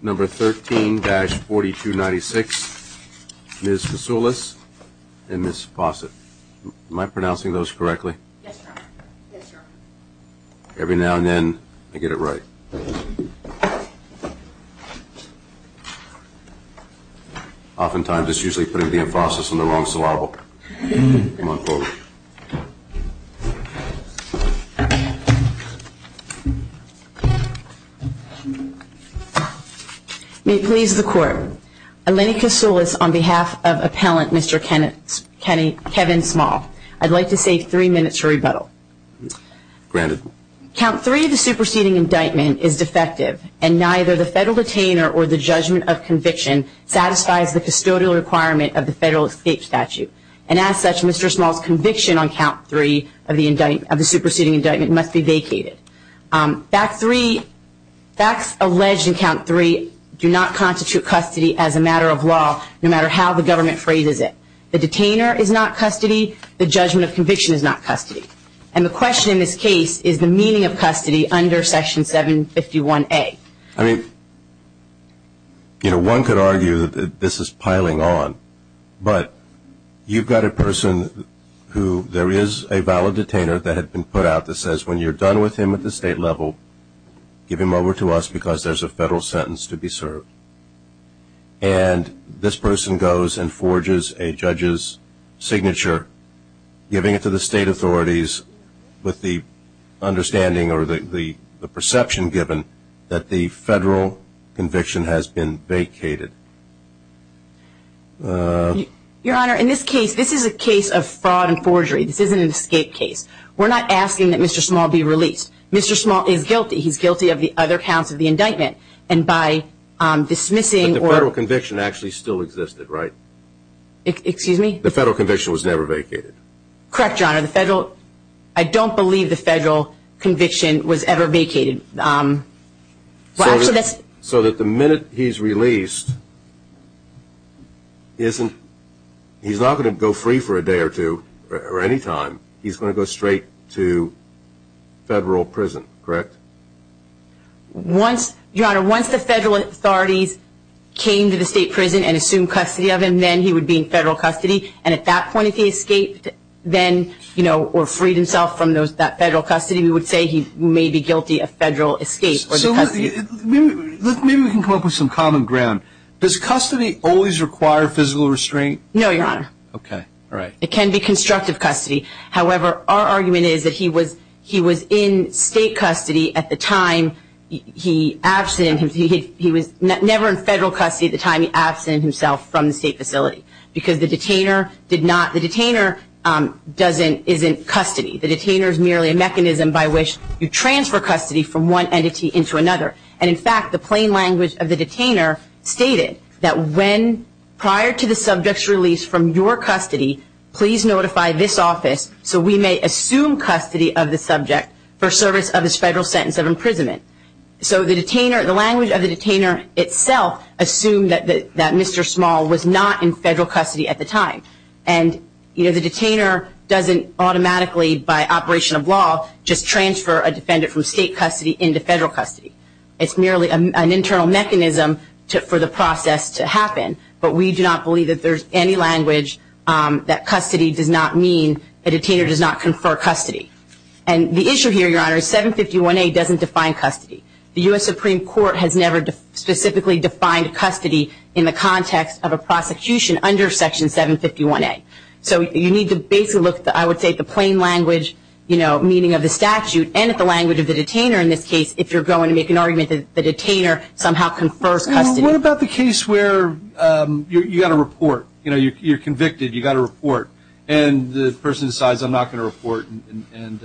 Number 13-4296, Ms. Vassoulis and Ms. Fawcett. Am I pronouncing those correctly? Yes, sir. Yes, sir. Every now and then, I get it right. Oftentimes, it's usually putting the emphasis on the wrong syllable. May it please the Court. Eleni Kasoulis, on behalf of Appellant Mr. Kevin Small. I'd like to say three minutes for rebuttal. Granted. Count three of the superseding indictment is defective, and neither the federal detainer or the judgment of conviction satisfies the custodial requirement of the federal escape statute. And as such, Mr. Small's conviction on count three of the superseding indictment must be vacated. Facts alleged in count three do not constitute custody as a matter of law, no matter how the government phrases it. The detainer is not custody. The judgment of conviction is not custody. And the question in this case is the meaning of custody under Section 751A. I mean, you know, one could argue that this is piling on, but you've got a person who there is a valid detainer that had been put out that says when you're done with him at the state level, give him over to us because there's a federal sentence to be served. And this person goes and forges a judge's signature, giving it to the state authorities with the understanding or the perception given that the federal conviction has been vacated. Your Honor, in this case, this is a case of fraud and forgery. This isn't an escape case. We're not asking that Mr. Small be released. Mr. Small is guilty. He's guilty of the other counts of the indictment. And by dismissing or – But the federal conviction actually still existed, right? Excuse me? The federal conviction was never vacated. Correct, Your Honor. The federal – I don't believe the federal conviction was ever vacated. So that the minute he's released, he's not going to go free for a day or two or any time. He's going to go straight to federal prison, correct? Your Honor, once the federal authorities came to the state prison and assumed custody of him, then he would be in federal custody. And at that point, if he escaped then or freed himself from that federal custody, we would say he may be guilty of federal escape. Maybe we can come up with some common ground. Does custody always require physical restraint? No, Your Honor. Okay, all right. It can be constructive custody. However, our argument is that he was in state custody at the time he absented. He was never in federal custody at the time he absented himself from the state facility because the detainer did not – the detainer doesn't – is in custody. The detainer is merely a mechanism by which you transfer custody from one entity into another. And, in fact, the plain language of the detainer stated that when – prior to the subject's release from your custody, please notify this office so we may assume custody of the subject for service of his federal sentence of imprisonment. So the detainer – the language of the detainer itself assumed that Mr. Small was not in federal custody at the time. And, you know, the detainer doesn't automatically, by operation of law, just transfer a defendant from state custody into federal custody. It's merely an internal mechanism for the process to happen. But we do not believe that there's any language that custody does not mean a detainer does not confer custody. And the issue here, Your Honor, is 751A doesn't define custody. The U.S. Supreme Court has never specifically defined custody in the context of a prosecution under Section 751A. So you need to basically look, I would say, at the plain language, you know, meaning of the statute and at the language of the detainer in this case if you're going to make an argument that the detainer somehow confers custody. Well, what about the case where you got a report, you know, you're convicted, you got a report, and the person decides, I'm not going to report, and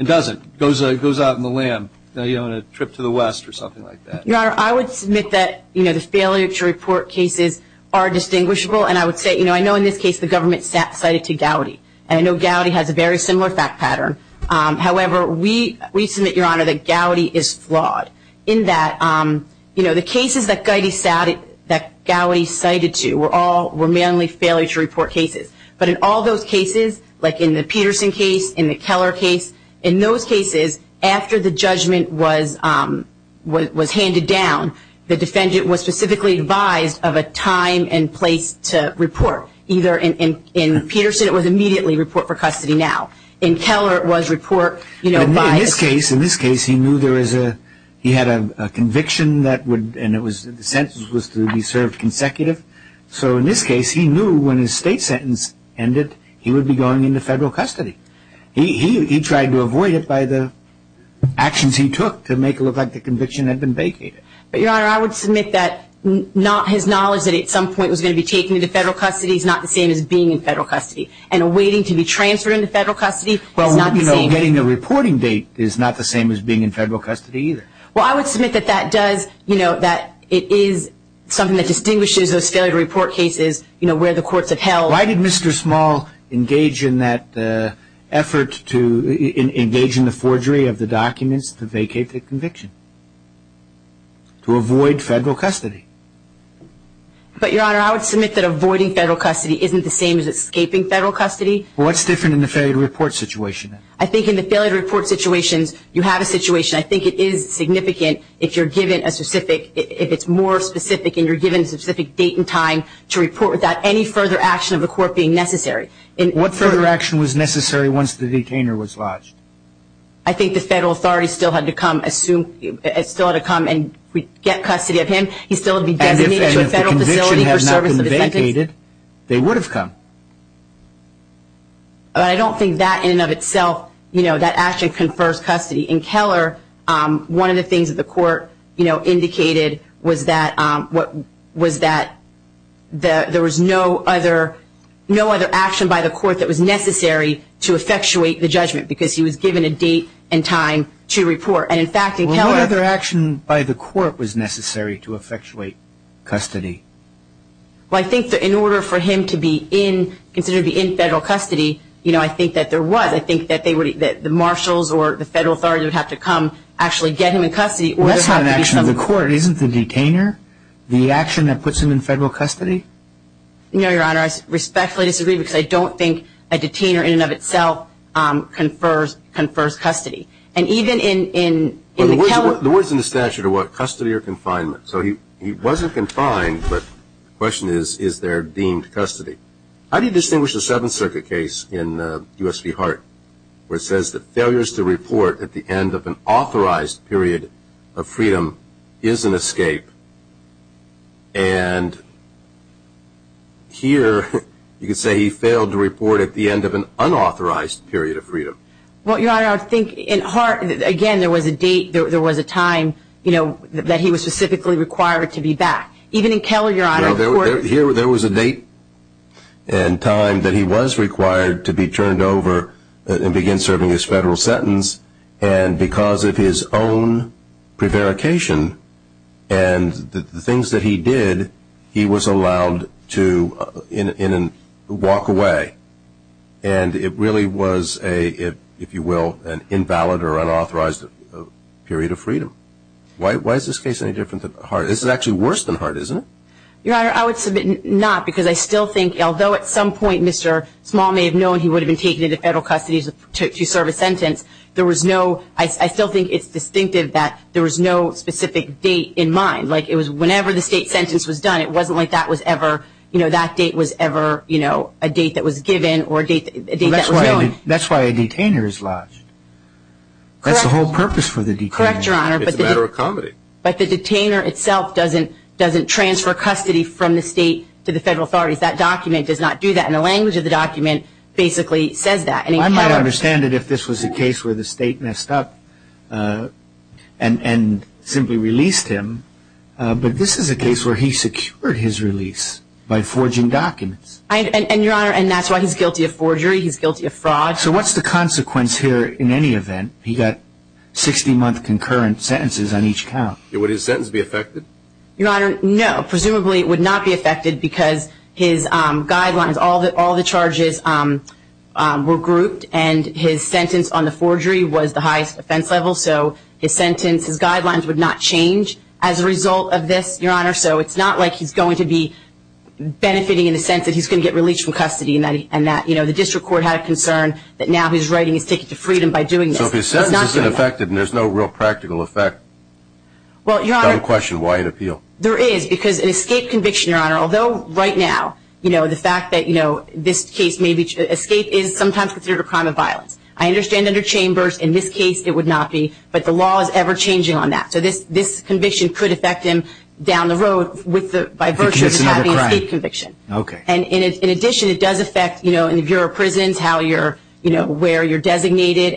doesn't. Goes out on the lam, you know, on a trip to the West or something like that. Your Honor, I would submit that, you know, the failure to report cases are distinguishable. And I would say, you know, I know in this case the government cited to Gowdy. And I know Gowdy has a very similar fact pattern. However, we submit, Your Honor, that Gowdy is flawed in that, you know, the cases that Gowdy cited to were mainly failure to report cases. But in all those cases, like in the Peterson case, in the Keller case, in those cases, after the judgment was handed down, the defendant was specifically advised of a time and place to report. Either in Peterson it was immediately report for custody now. In Keller it was report, you know, by the state. In this case he knew there was a, he had a conviction that would, and the sentence was to be served consecutive. So in this case he knew when his state sentence ended he would be going into federal custody. He tried to avoid it by the actions he took to make it look like the conviction had been vacated. But, Your Honor, I would submit that not his knowledge that at some point he was going to be taken into federal custody is not the same as being in federal custody. And waiting to be transferred into federal custody is not the same. Well, you know, getting a reporting date is not the same as being in federal custody either. Well, I would submit that that does, you know, that it is something that distinguishes those failure to report cases, you know, where the courts have held. Why did Mr. Small engage in that effort to, engage in the forgery of the documents to vacate the conviction? To avoid federal custody. But, Your Honor, I would submit that avoiding federal custody isn't the same as escaping federal custody. Well, what's different in the failure to report situation? I think in the failure to report situations you have a situation. I think it is significant if you're given a specific, if it's more specific and you're given a specific date and time to report without any further action of the court being necessary. What further action was necessary once the detainer was lodged? I think the federal authorities still had to come assume, still had to come and get custody of him. He still would be designated to a federal facility for service of his sentence. And if the conviction had not been vacated, they would have come. But I don't think that in and of itself, you know, that action confers custody. In Keller, one of the things that the court, you know, indicated was that, was that there was no other, no other action by the court that was necessary to effectuate the judgment because he was given a date and time to report. And, in fact, in Keller- Well, what other action by the court was necessary to effectuate custody? Well, I think that in order for him to be in, considered to be in federal custody, you know, I think that there was. I think that the marshals or the federal authorities would have to come actually get him in custody. Well, that's not an action of the court. Isn't the detainer the action that puts him in federal custody? No, Your Honor. I respectfully disagree because I don't think a detainer in and of itself confers custody. And even in Keller- The words in the statute are what? Custody or confinement. So he wasn't confined, but the question is, is there deemed custody? How do you distinguish the Seventh Circuit case in U.S. v. Hart, where it says that failures to report at the end of an authorized period of freedom is an escape? And here you could say he failed to report at the end of an unauthorized period of freedom. Well, Your Honor, I think in Hart, again, there was a date, there was a time, you know, that he was specifically required to be back. Even in Keller, Your Honor, the court- There was a date and time that he was required to be turned over and begin serving his federal sentence. And because of his own prevarication and the things that he did, he was allowed to walk away. And it really was, if you will, an invalid or unauthorized period of freedom. Why is this case any different than Hart? This is actually worse than Hart, isn't it? Your Honor, I would submit not, because I still think, although at some point Mr. Small may have known he would have been taken into federal custody to serve a sentence, there was no- I still think it's distinctive that there was no specific date in mind. Like, it was whenever the state sentence was done, it wasn't like that was ever, you know, that date was ever, you know, a date that was given or a date that was known. That's why a detainer is lodged. That's the whole purpose for the detainer. Correct, Your Honor. It's a matter of comedy. But the detainer itself doesn't transfer custody from the state to the federal authorities. That document does not do that. And the language of the document basically says that. I can't understand it if this was a case where the state messed up and simply released him. But this is a case where he secured his release by forging documents. And, Your Honor, that's why he's guilty of forgery, he's guilty of fraud. So what's the consequence here in any event? He got 60-month concurrent sentences on each count. Would his sentence be affected? Your Honor, no. Presumably it would not be affected because his guidelines, all the charges were grouped and his sentence on the forgery was the highest offense level. So his sentence, his guidelines would not change as a result of this, Your Honor. So it's not like he's going to be benefiting in the sense that he's going to get released from custody and that the district court had a concern that now his writing is taken to freedom by doing this. So if his sentence isn't affected and there's no real practical effect, I don't question why he'd appeal. There is because an escape conviction, Your Honor, although right now, the fact that this case may be escape is sometimes considered a crime of violence. I understand under Chambers in this case it would not be, but the law is ever-changing on that. So this conviction could affect him down the road by virtue of having an escape conviction. Okay. And in addition, it does affect, you know, in the Bureau of Prisons how you're, you know, where you're designated.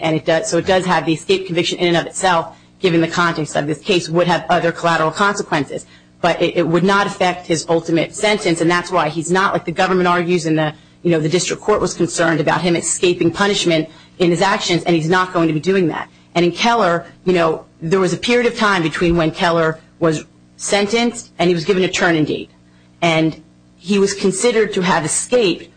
So it does have the escape conviction in and of itself, given the context of this case would have other collateral consequences. But it would not affect his ultimate sentence, and that's why he's not like the government argues and the district court was concerned about him escaping punishment in his actions, and he's not going to be doing that. And in Keller, you know, there was a period of time between when Keller was sentenced and he was given a turning date, and he was considered to have escaped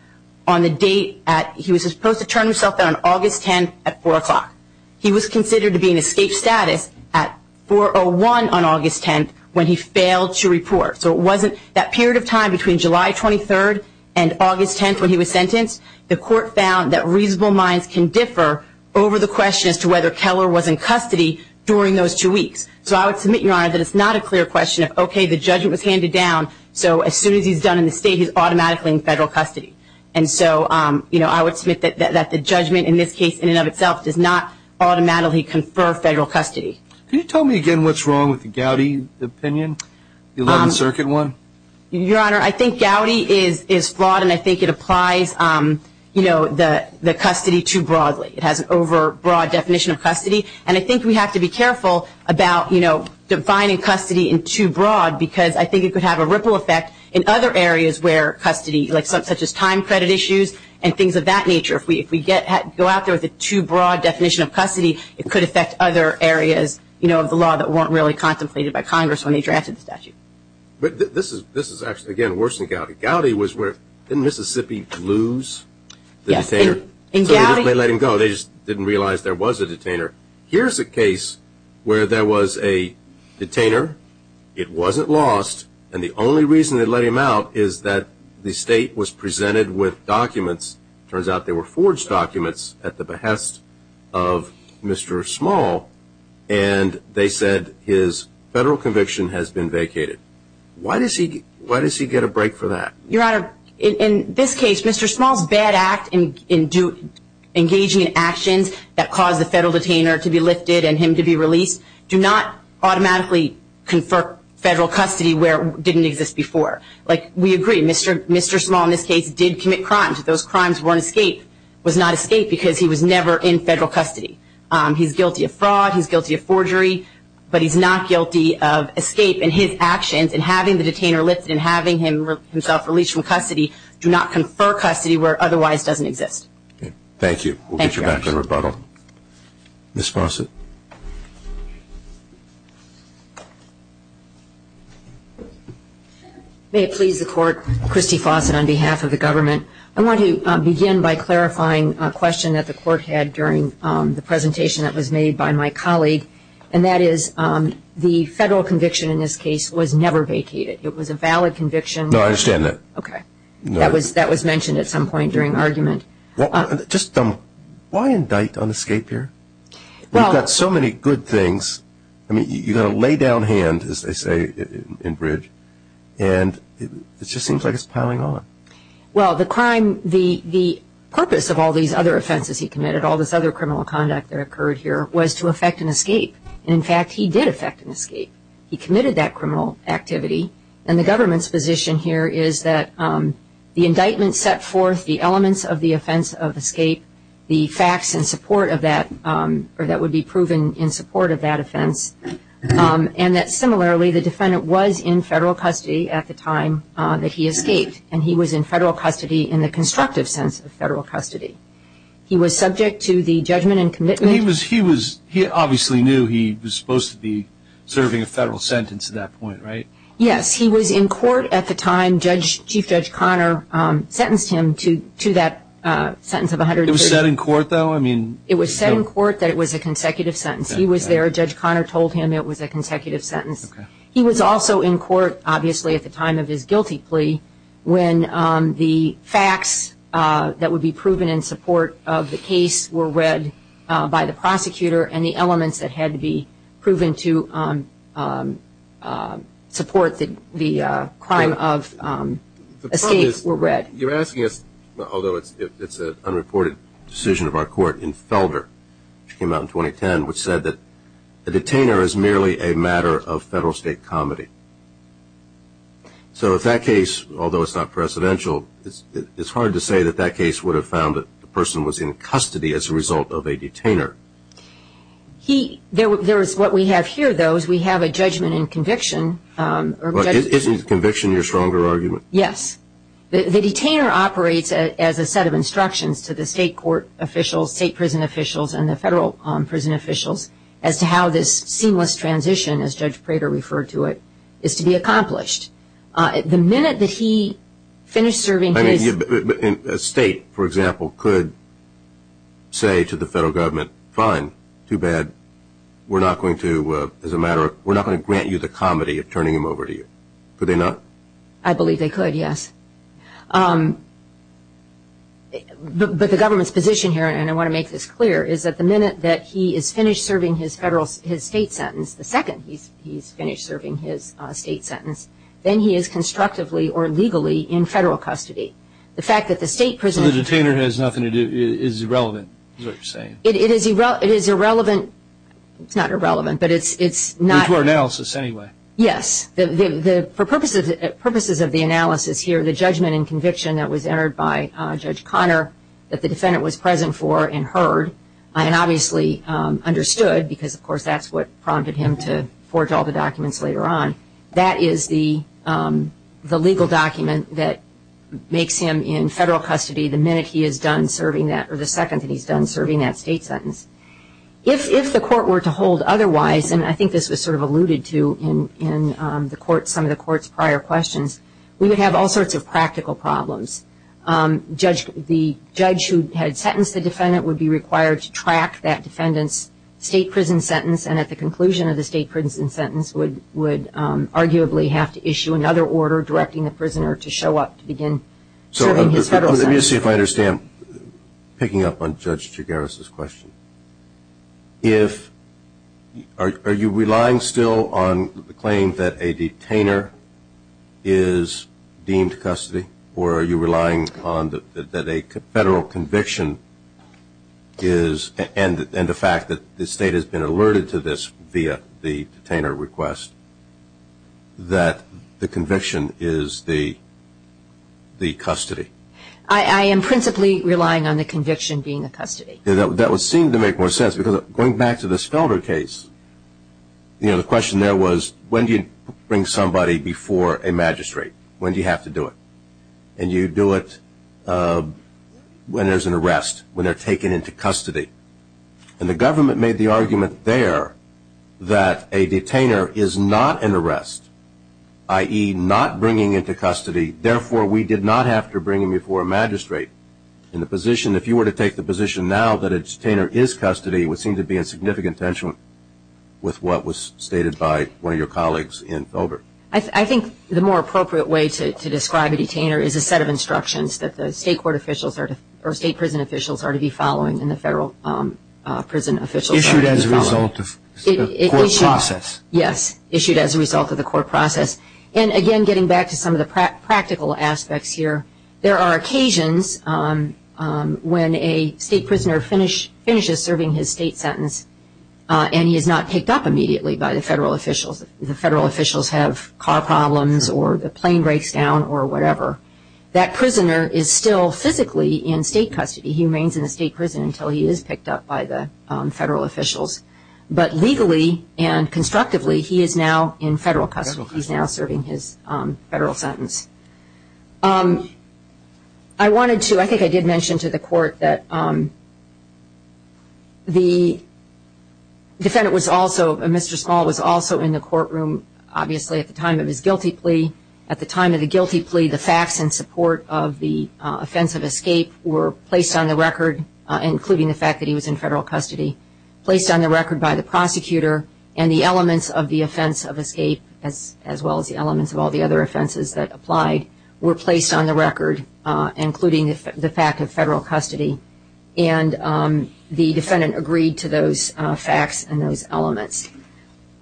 on the date at, he was supposed to turn himself in on August 10th at 4 o'clock. He was considered to be in escape status at 4.01 on August 10th when he failed to report. So it wasn't that period of time between July 23rd and August 10th when he was sentenced. The court found that reasonable minds can differ over the question as to whether Keller was in custody during those two weeks. So I would submit, Your Honor, that it's not a clear question of, okay, the judgment was handed down. So as soon as he's done in the state, he's automatically in federal custody. And so, you know, I would submit that the judgment in this case in and of itself does not automatically confer federal custody. Can you tell me again what's wrong with the Gowdy opinion, the 11th Circuit one? Your Honor, I think Gowdy is flawed, and I think it applies, you know, the custody too broadly. It has an overbroad definition of custody. And I think we have to be careful about, you know, defining custody in too broad because I think it could have a ripple effect in other areas where custody, like such as time credit issues and things of that nature. If we go out there with a too broad definition of custody, it could affect other areas, you know, of the law that weren't really contemplated by Congress when they drafted the statute. But this is actually, again, worse than Gowdy. Gowdy was where, didn't Mississippi lose the detainer? Yes. So they didn't let him go. They just didn't realize there was a detainer. Here's a case where there was a detainer. It wasn't lost, and the only reason they let him out is that the state was presented with documents. It turns out they were forged documents at the behest of Mr. Small, and they said his federal conviction has been vacated. Why does he get a break for that? Your Honor, in this case, Mr. Small's bad act in engaging in actions that caused the federal detainer to be lifted and him to be released do not automatically confer federal custody where it didn't exist before. Like, we agree, Mr. Small in this case did commit crimes. Those crimes weren't escaped, was not escaped because he was never in federal custody. He's guilty of fraud. He's guilty of forgery. But he's not guilty of escape in his actions and having the detainer lifted and having himself released from custody do not confer custody where it otherwise doesn't exist. Thank you. We'll get you back to rebuttal. Ms. Fawcett. May it please the Court, Christy Fawcett on behalf of the government. I want to begin by clarifying a question that the Court had during the presentation that was made by my colleague, and that is the federal conviction in this case was never vacated. It was a valid conviction. No, I understand that. Okay. That was mentioned at some point during argument. Just why indict on escape here? You've got so many good things. I mean, you've got a lay down hand, as they say in Bridge, and it just seems like it's piling on. Well, the crime, the purpose of all these other offenses he committed, all this other criminal conduct that occurred here, was to affect an escape. And, in fact, he did affect an escape. He committed that criminal activity. And the government's position here is that the indictment set forth the elements of the offense of escape, the facts in support of that, or that would be proven in support of that offense, and that, similarly, the defendant was in federal custody at the time that he escaped, and he was in federal custody in the constructive sense of federal custody. He was subject to the judgment and commitment. He obviously knew he was supposed to be serving a federal sentence at that point, right? Yes. He was in court at the time Chief Judge Conner sentenced him to that sentence of 130. It was set in court, though? It was set in court that it was a consecutive sentence. He was there. Judge Conner told him it was a consecutive sentence. Okay. He was also in court, obviously, at the time of his guilty plea, when the facts that would be proven in support of the case were read by the prosecutor and the elements that had to be proven to support the crime of escape were read. You're asking us, although it's an unreported decision of our court, in Felder, which came out in 2010, which said that the detainer is merely a matter of federal state comedy. So if that case, although it's not presidential, it's hard to say that that case would have found that the person was in custody as a result of a detainer. There is what we have here, though, is we have a judgment and conviction. Isn't conviction your stronger argument? Yes. The detainer operates as a set of instructions to the state court officials, state prison officials, and the federal prison officials as to how this seamless transition, as Judge Prater referred to it, is to be accomplished. The minute that he finished serving his- A state, for example, could say to the federal government, fine, too bad, we're not going to grant you the comedy of turning him over to you. Could they not? I believe they could, yes. But the government's position here, and I want to make this clear, is that the minute that he is finished serving his state sentence, the second he's finished serving his state sentence, then he is constructively or legally in federal custody. The fact that the state prison- So the detainer has nothing to do, is irrelevant, is what you're saying. It is irrelevant. It's not irrelevant, but it's not- It's word analysis anyway. Yes. For purposes of the analysis here, the judgment and conviction that was entered by Judge Conner, that the defendant was present for and heard, and obviously understood, because, of course, that's what prompted him to forge all the documents later on, that is the legal document that makes him in federal custody the minute he is done serving that- or the second that he's done serving that state sentence. If the court were to hold otherwise, and I think this was sort of alluded to in some of the court's prior questions, we would have all sorts of practical problems. The judge who had sentenced the defendant would be required to track that defendant's state prison sentence, and at the conclusion of the state prison sentence would arguably have to issue another order directing the prisoner to show up to begin serving his federal sentence. Let me see if I understand, picking up on Judge Chigares' question. Are you relying still on the claim that a detainer is deemed custody, or are you relying on that a federal conviction is- I am principally relying on the conviction being a custody. That would seem to make more sense, because going back to the Spellberg case, the question there was, when do you bring somebody before a magistrate? When do you have to do it? And you do it when there's an arrest, when they're taken into custody. And the government made the argument there that a detainer is not an arrest, i.e., not bringing into custody, therefore we did not have to bring him before a magistrate. In the position, if you were to take the position now that a detainer is custody, it would seem to be in significant tension with what was stated by one of your colleagues in Fulbright. I think the more appropriate way to describe a detainer is a set of instructions that the state court officials or state prison officials are to be following and the federal prison officials are to be following. Issued as a result of the court process. Yes, issued as a result of the court process. And again, getting back to some of the practical aspects here, there are occasions when a state prisoner finishes serving his state sentence and he is not picked up immediately by the federal officials. The federal officials have car problems or the plane breaks down or whatever. That prisoner is still physically in state custody. He remains in the state prison until he is picked up by the federal officials. But legally and constructively, he is now in federal custody. He is now serving his federal sentence. I wanted to, I think I did mention to the court that the defendant was also, Mr. Small was also in the courtroom, obviously, at the time of his guilty plea. At the time of the guilty plea, the facts in support of the offense of escape were placed on the record, including the fact that he was in federal custody, placed on the record by the prosecutor and the elements of the offense of escape, as well as the elements of all the other offenses that applied, were placed on the record, including the fact of federal custody. And the defendant agreed to those facts and those elements.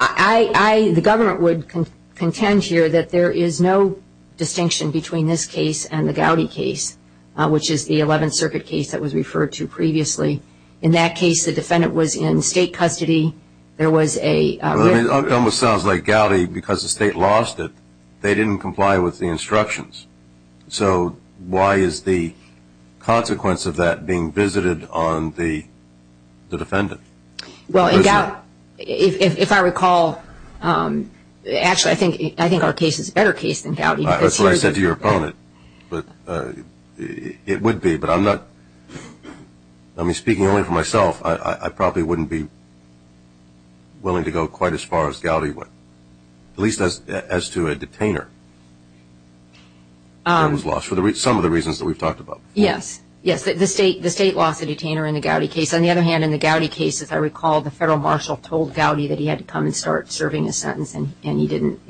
I, the government would contend here that there is no distinction between this case and the Gowdy case, which is the 11th Circuit case that was referred to previously. In that case, the defendant was in state custody. There was a written. It almost sounds like Gowdy, because the state lost it, they didn't comply with the instructions. So why is the consequence of that being visited on the defendant? Well, in Gowdy, if I recall, actually, I think our case is a better case than Gowdy. That's what I said to your opponent, but it would be. I mean, speaking only for myself, I probably wouldn't be willing to go quite as far as Gowdy would, at least as to a detainer that was lost for some of the reasons that we've talked about. Yes. Yes, the state lost a detainer in the Gowdy case. On the other hand, in the Gowdy case, as I recall, the federal marshal told Gowdy that he had to come and start serving his sentence, and he didn't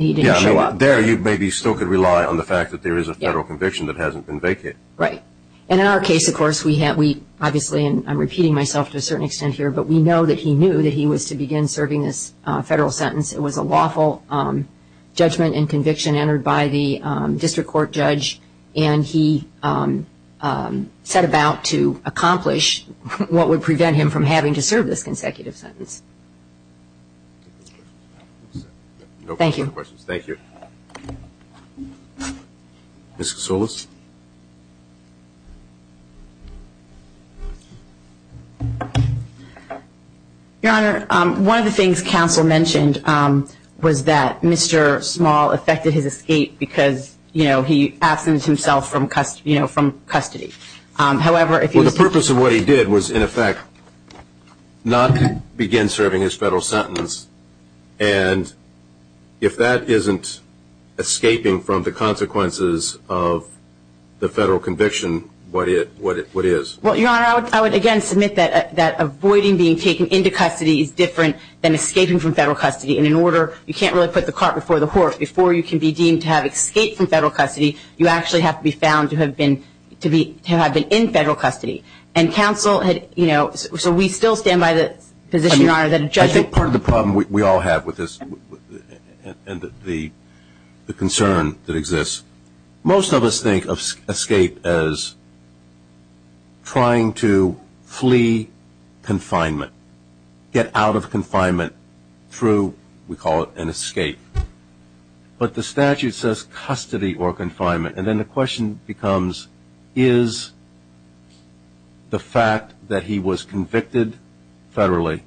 show up. There, you maybe still could rely on the fact that there is a federal conviction that hasn't been vacated. Right. And in our case, of course, we obviously, and I'm repeating myself to a certain extent here, but we know that he knew that he was to begin serving this federal sentence. It was a lawful judgment and conviction entered by the district court judge, and he set about to accomplish what would prevent him from having to serve this consecutive sentence. Thank you. No further questions. Thank you. Ms. Kosoulis. Your Honor, one of the things counsel mentioned was that Mr. Small affected his escape because, you know, he absented himself from custody. However, if he was to- Well, the purpose of what he did was, in effect, not begin serving his federal sentence, and if that isn't escaping from the consequences of the federal conviction, what is? Well, Your Honor, I would, again, submit that avoiding being taken into custody is different than escaping from federal custody, and in order, you can't really put the cart before the horse. Before you can be deemed to have escaped from federal custody, you actually have to be found to have been in federal custody. And counsel had, you know, so we still stand by the position, Your Honor, that a judge- I think part of the problem we all have with this and the concern that exists, most of us think of escape as trying to flee confinement, get out of confinement through, we call it, an escape. But the statute says custody or confinement, and then the question becomes, is the fact that he was convicted federally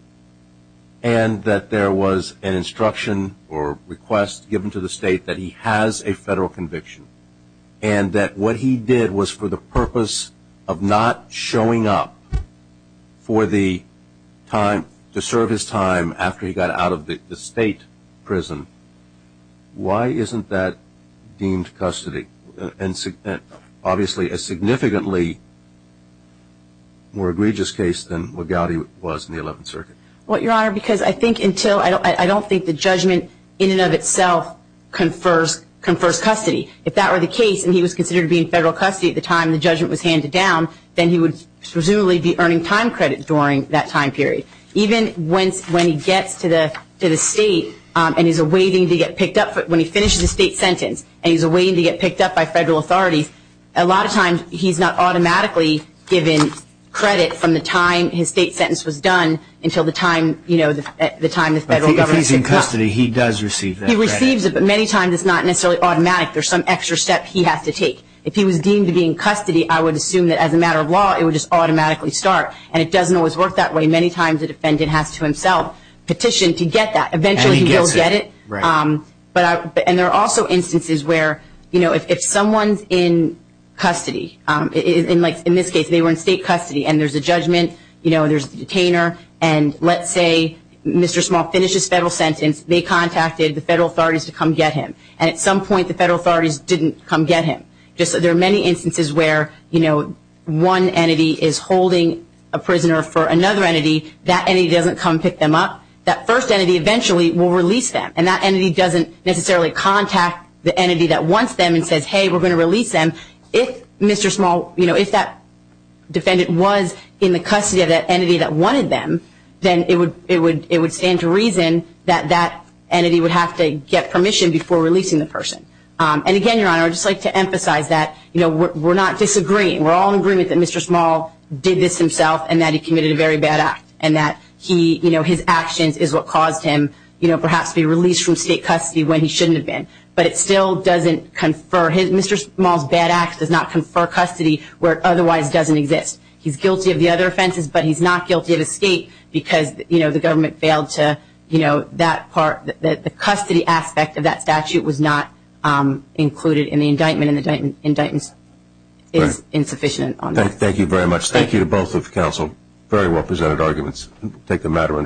and that there was an instruction or request given to the state that he has a federal conviction and that what he did was for the purpose of not showing up for the time- to serve his time after he got out of the state prison, why isn't that deemed custody? And obviously a significantly more egregious case than what Gowdy was in the 11th Circuit. Well, Your Honor, because I think until- I don't think the judgment in and of itself confers custody. If that were the case and he was considered to be in federal custody at the time the judgment was handed down, then he would presumably be earning time credit during that time period. Even when he gets to the state and he's waiting to get picked up- when he finishes his state sentence and he's waiting to get picked up by federal authorities, a lot of times he's not automatically given credit from the time his state sentence was done until the time the federal government- But if he's in custody, he does receive that credit. He receives it, but many times it's not necessarily automatic. There's some extra step he has to take. If he was deemed to be in custody, I would assume that as a matter of law, it would just automatically start. And it doesn't always work that way. Many times a defendant has to himself petition to get that. Eventually he will get it. And there are also instances where if someone's in custody- in this case they were in state custody and there's a judgment, there's the detainer, and let's say Mr. Small finishes federal sentence, they contacted the federal authorities to come get him. And at some point the federal authorities didn't come get him. There are many instances where one entity is holding a prisoner for another entity. That entity doesn't come pick them up. That first entity eventually will release them. And that entity doesn't necessarily contact the entity that wants them and says, hey, we're going to release them. If that defendant was in the custody of that entity that wanted them, then it would stand to reason that that entity would have to get permission before releasing the person. And again, Your Honor, I would just like to emphasize that we're not disagreeing. We're all in agreement that Mr. Small did this himself and that he committed a very bad act and that his actions is what caused him perhaps to be released from state custody when he shouldn't have been. But it still doesn't confer. Mr. Small's bad act does not confer custody where it otherwise doesn't exist. He's guilty of the other offenses, but he's not guilty of escape because the government failed to- include it in the indictment and the indictment is insufficient on that. Thank you very much. Thank you to both of the counsel. Very well presented arguments. We'll take the matter under wrap.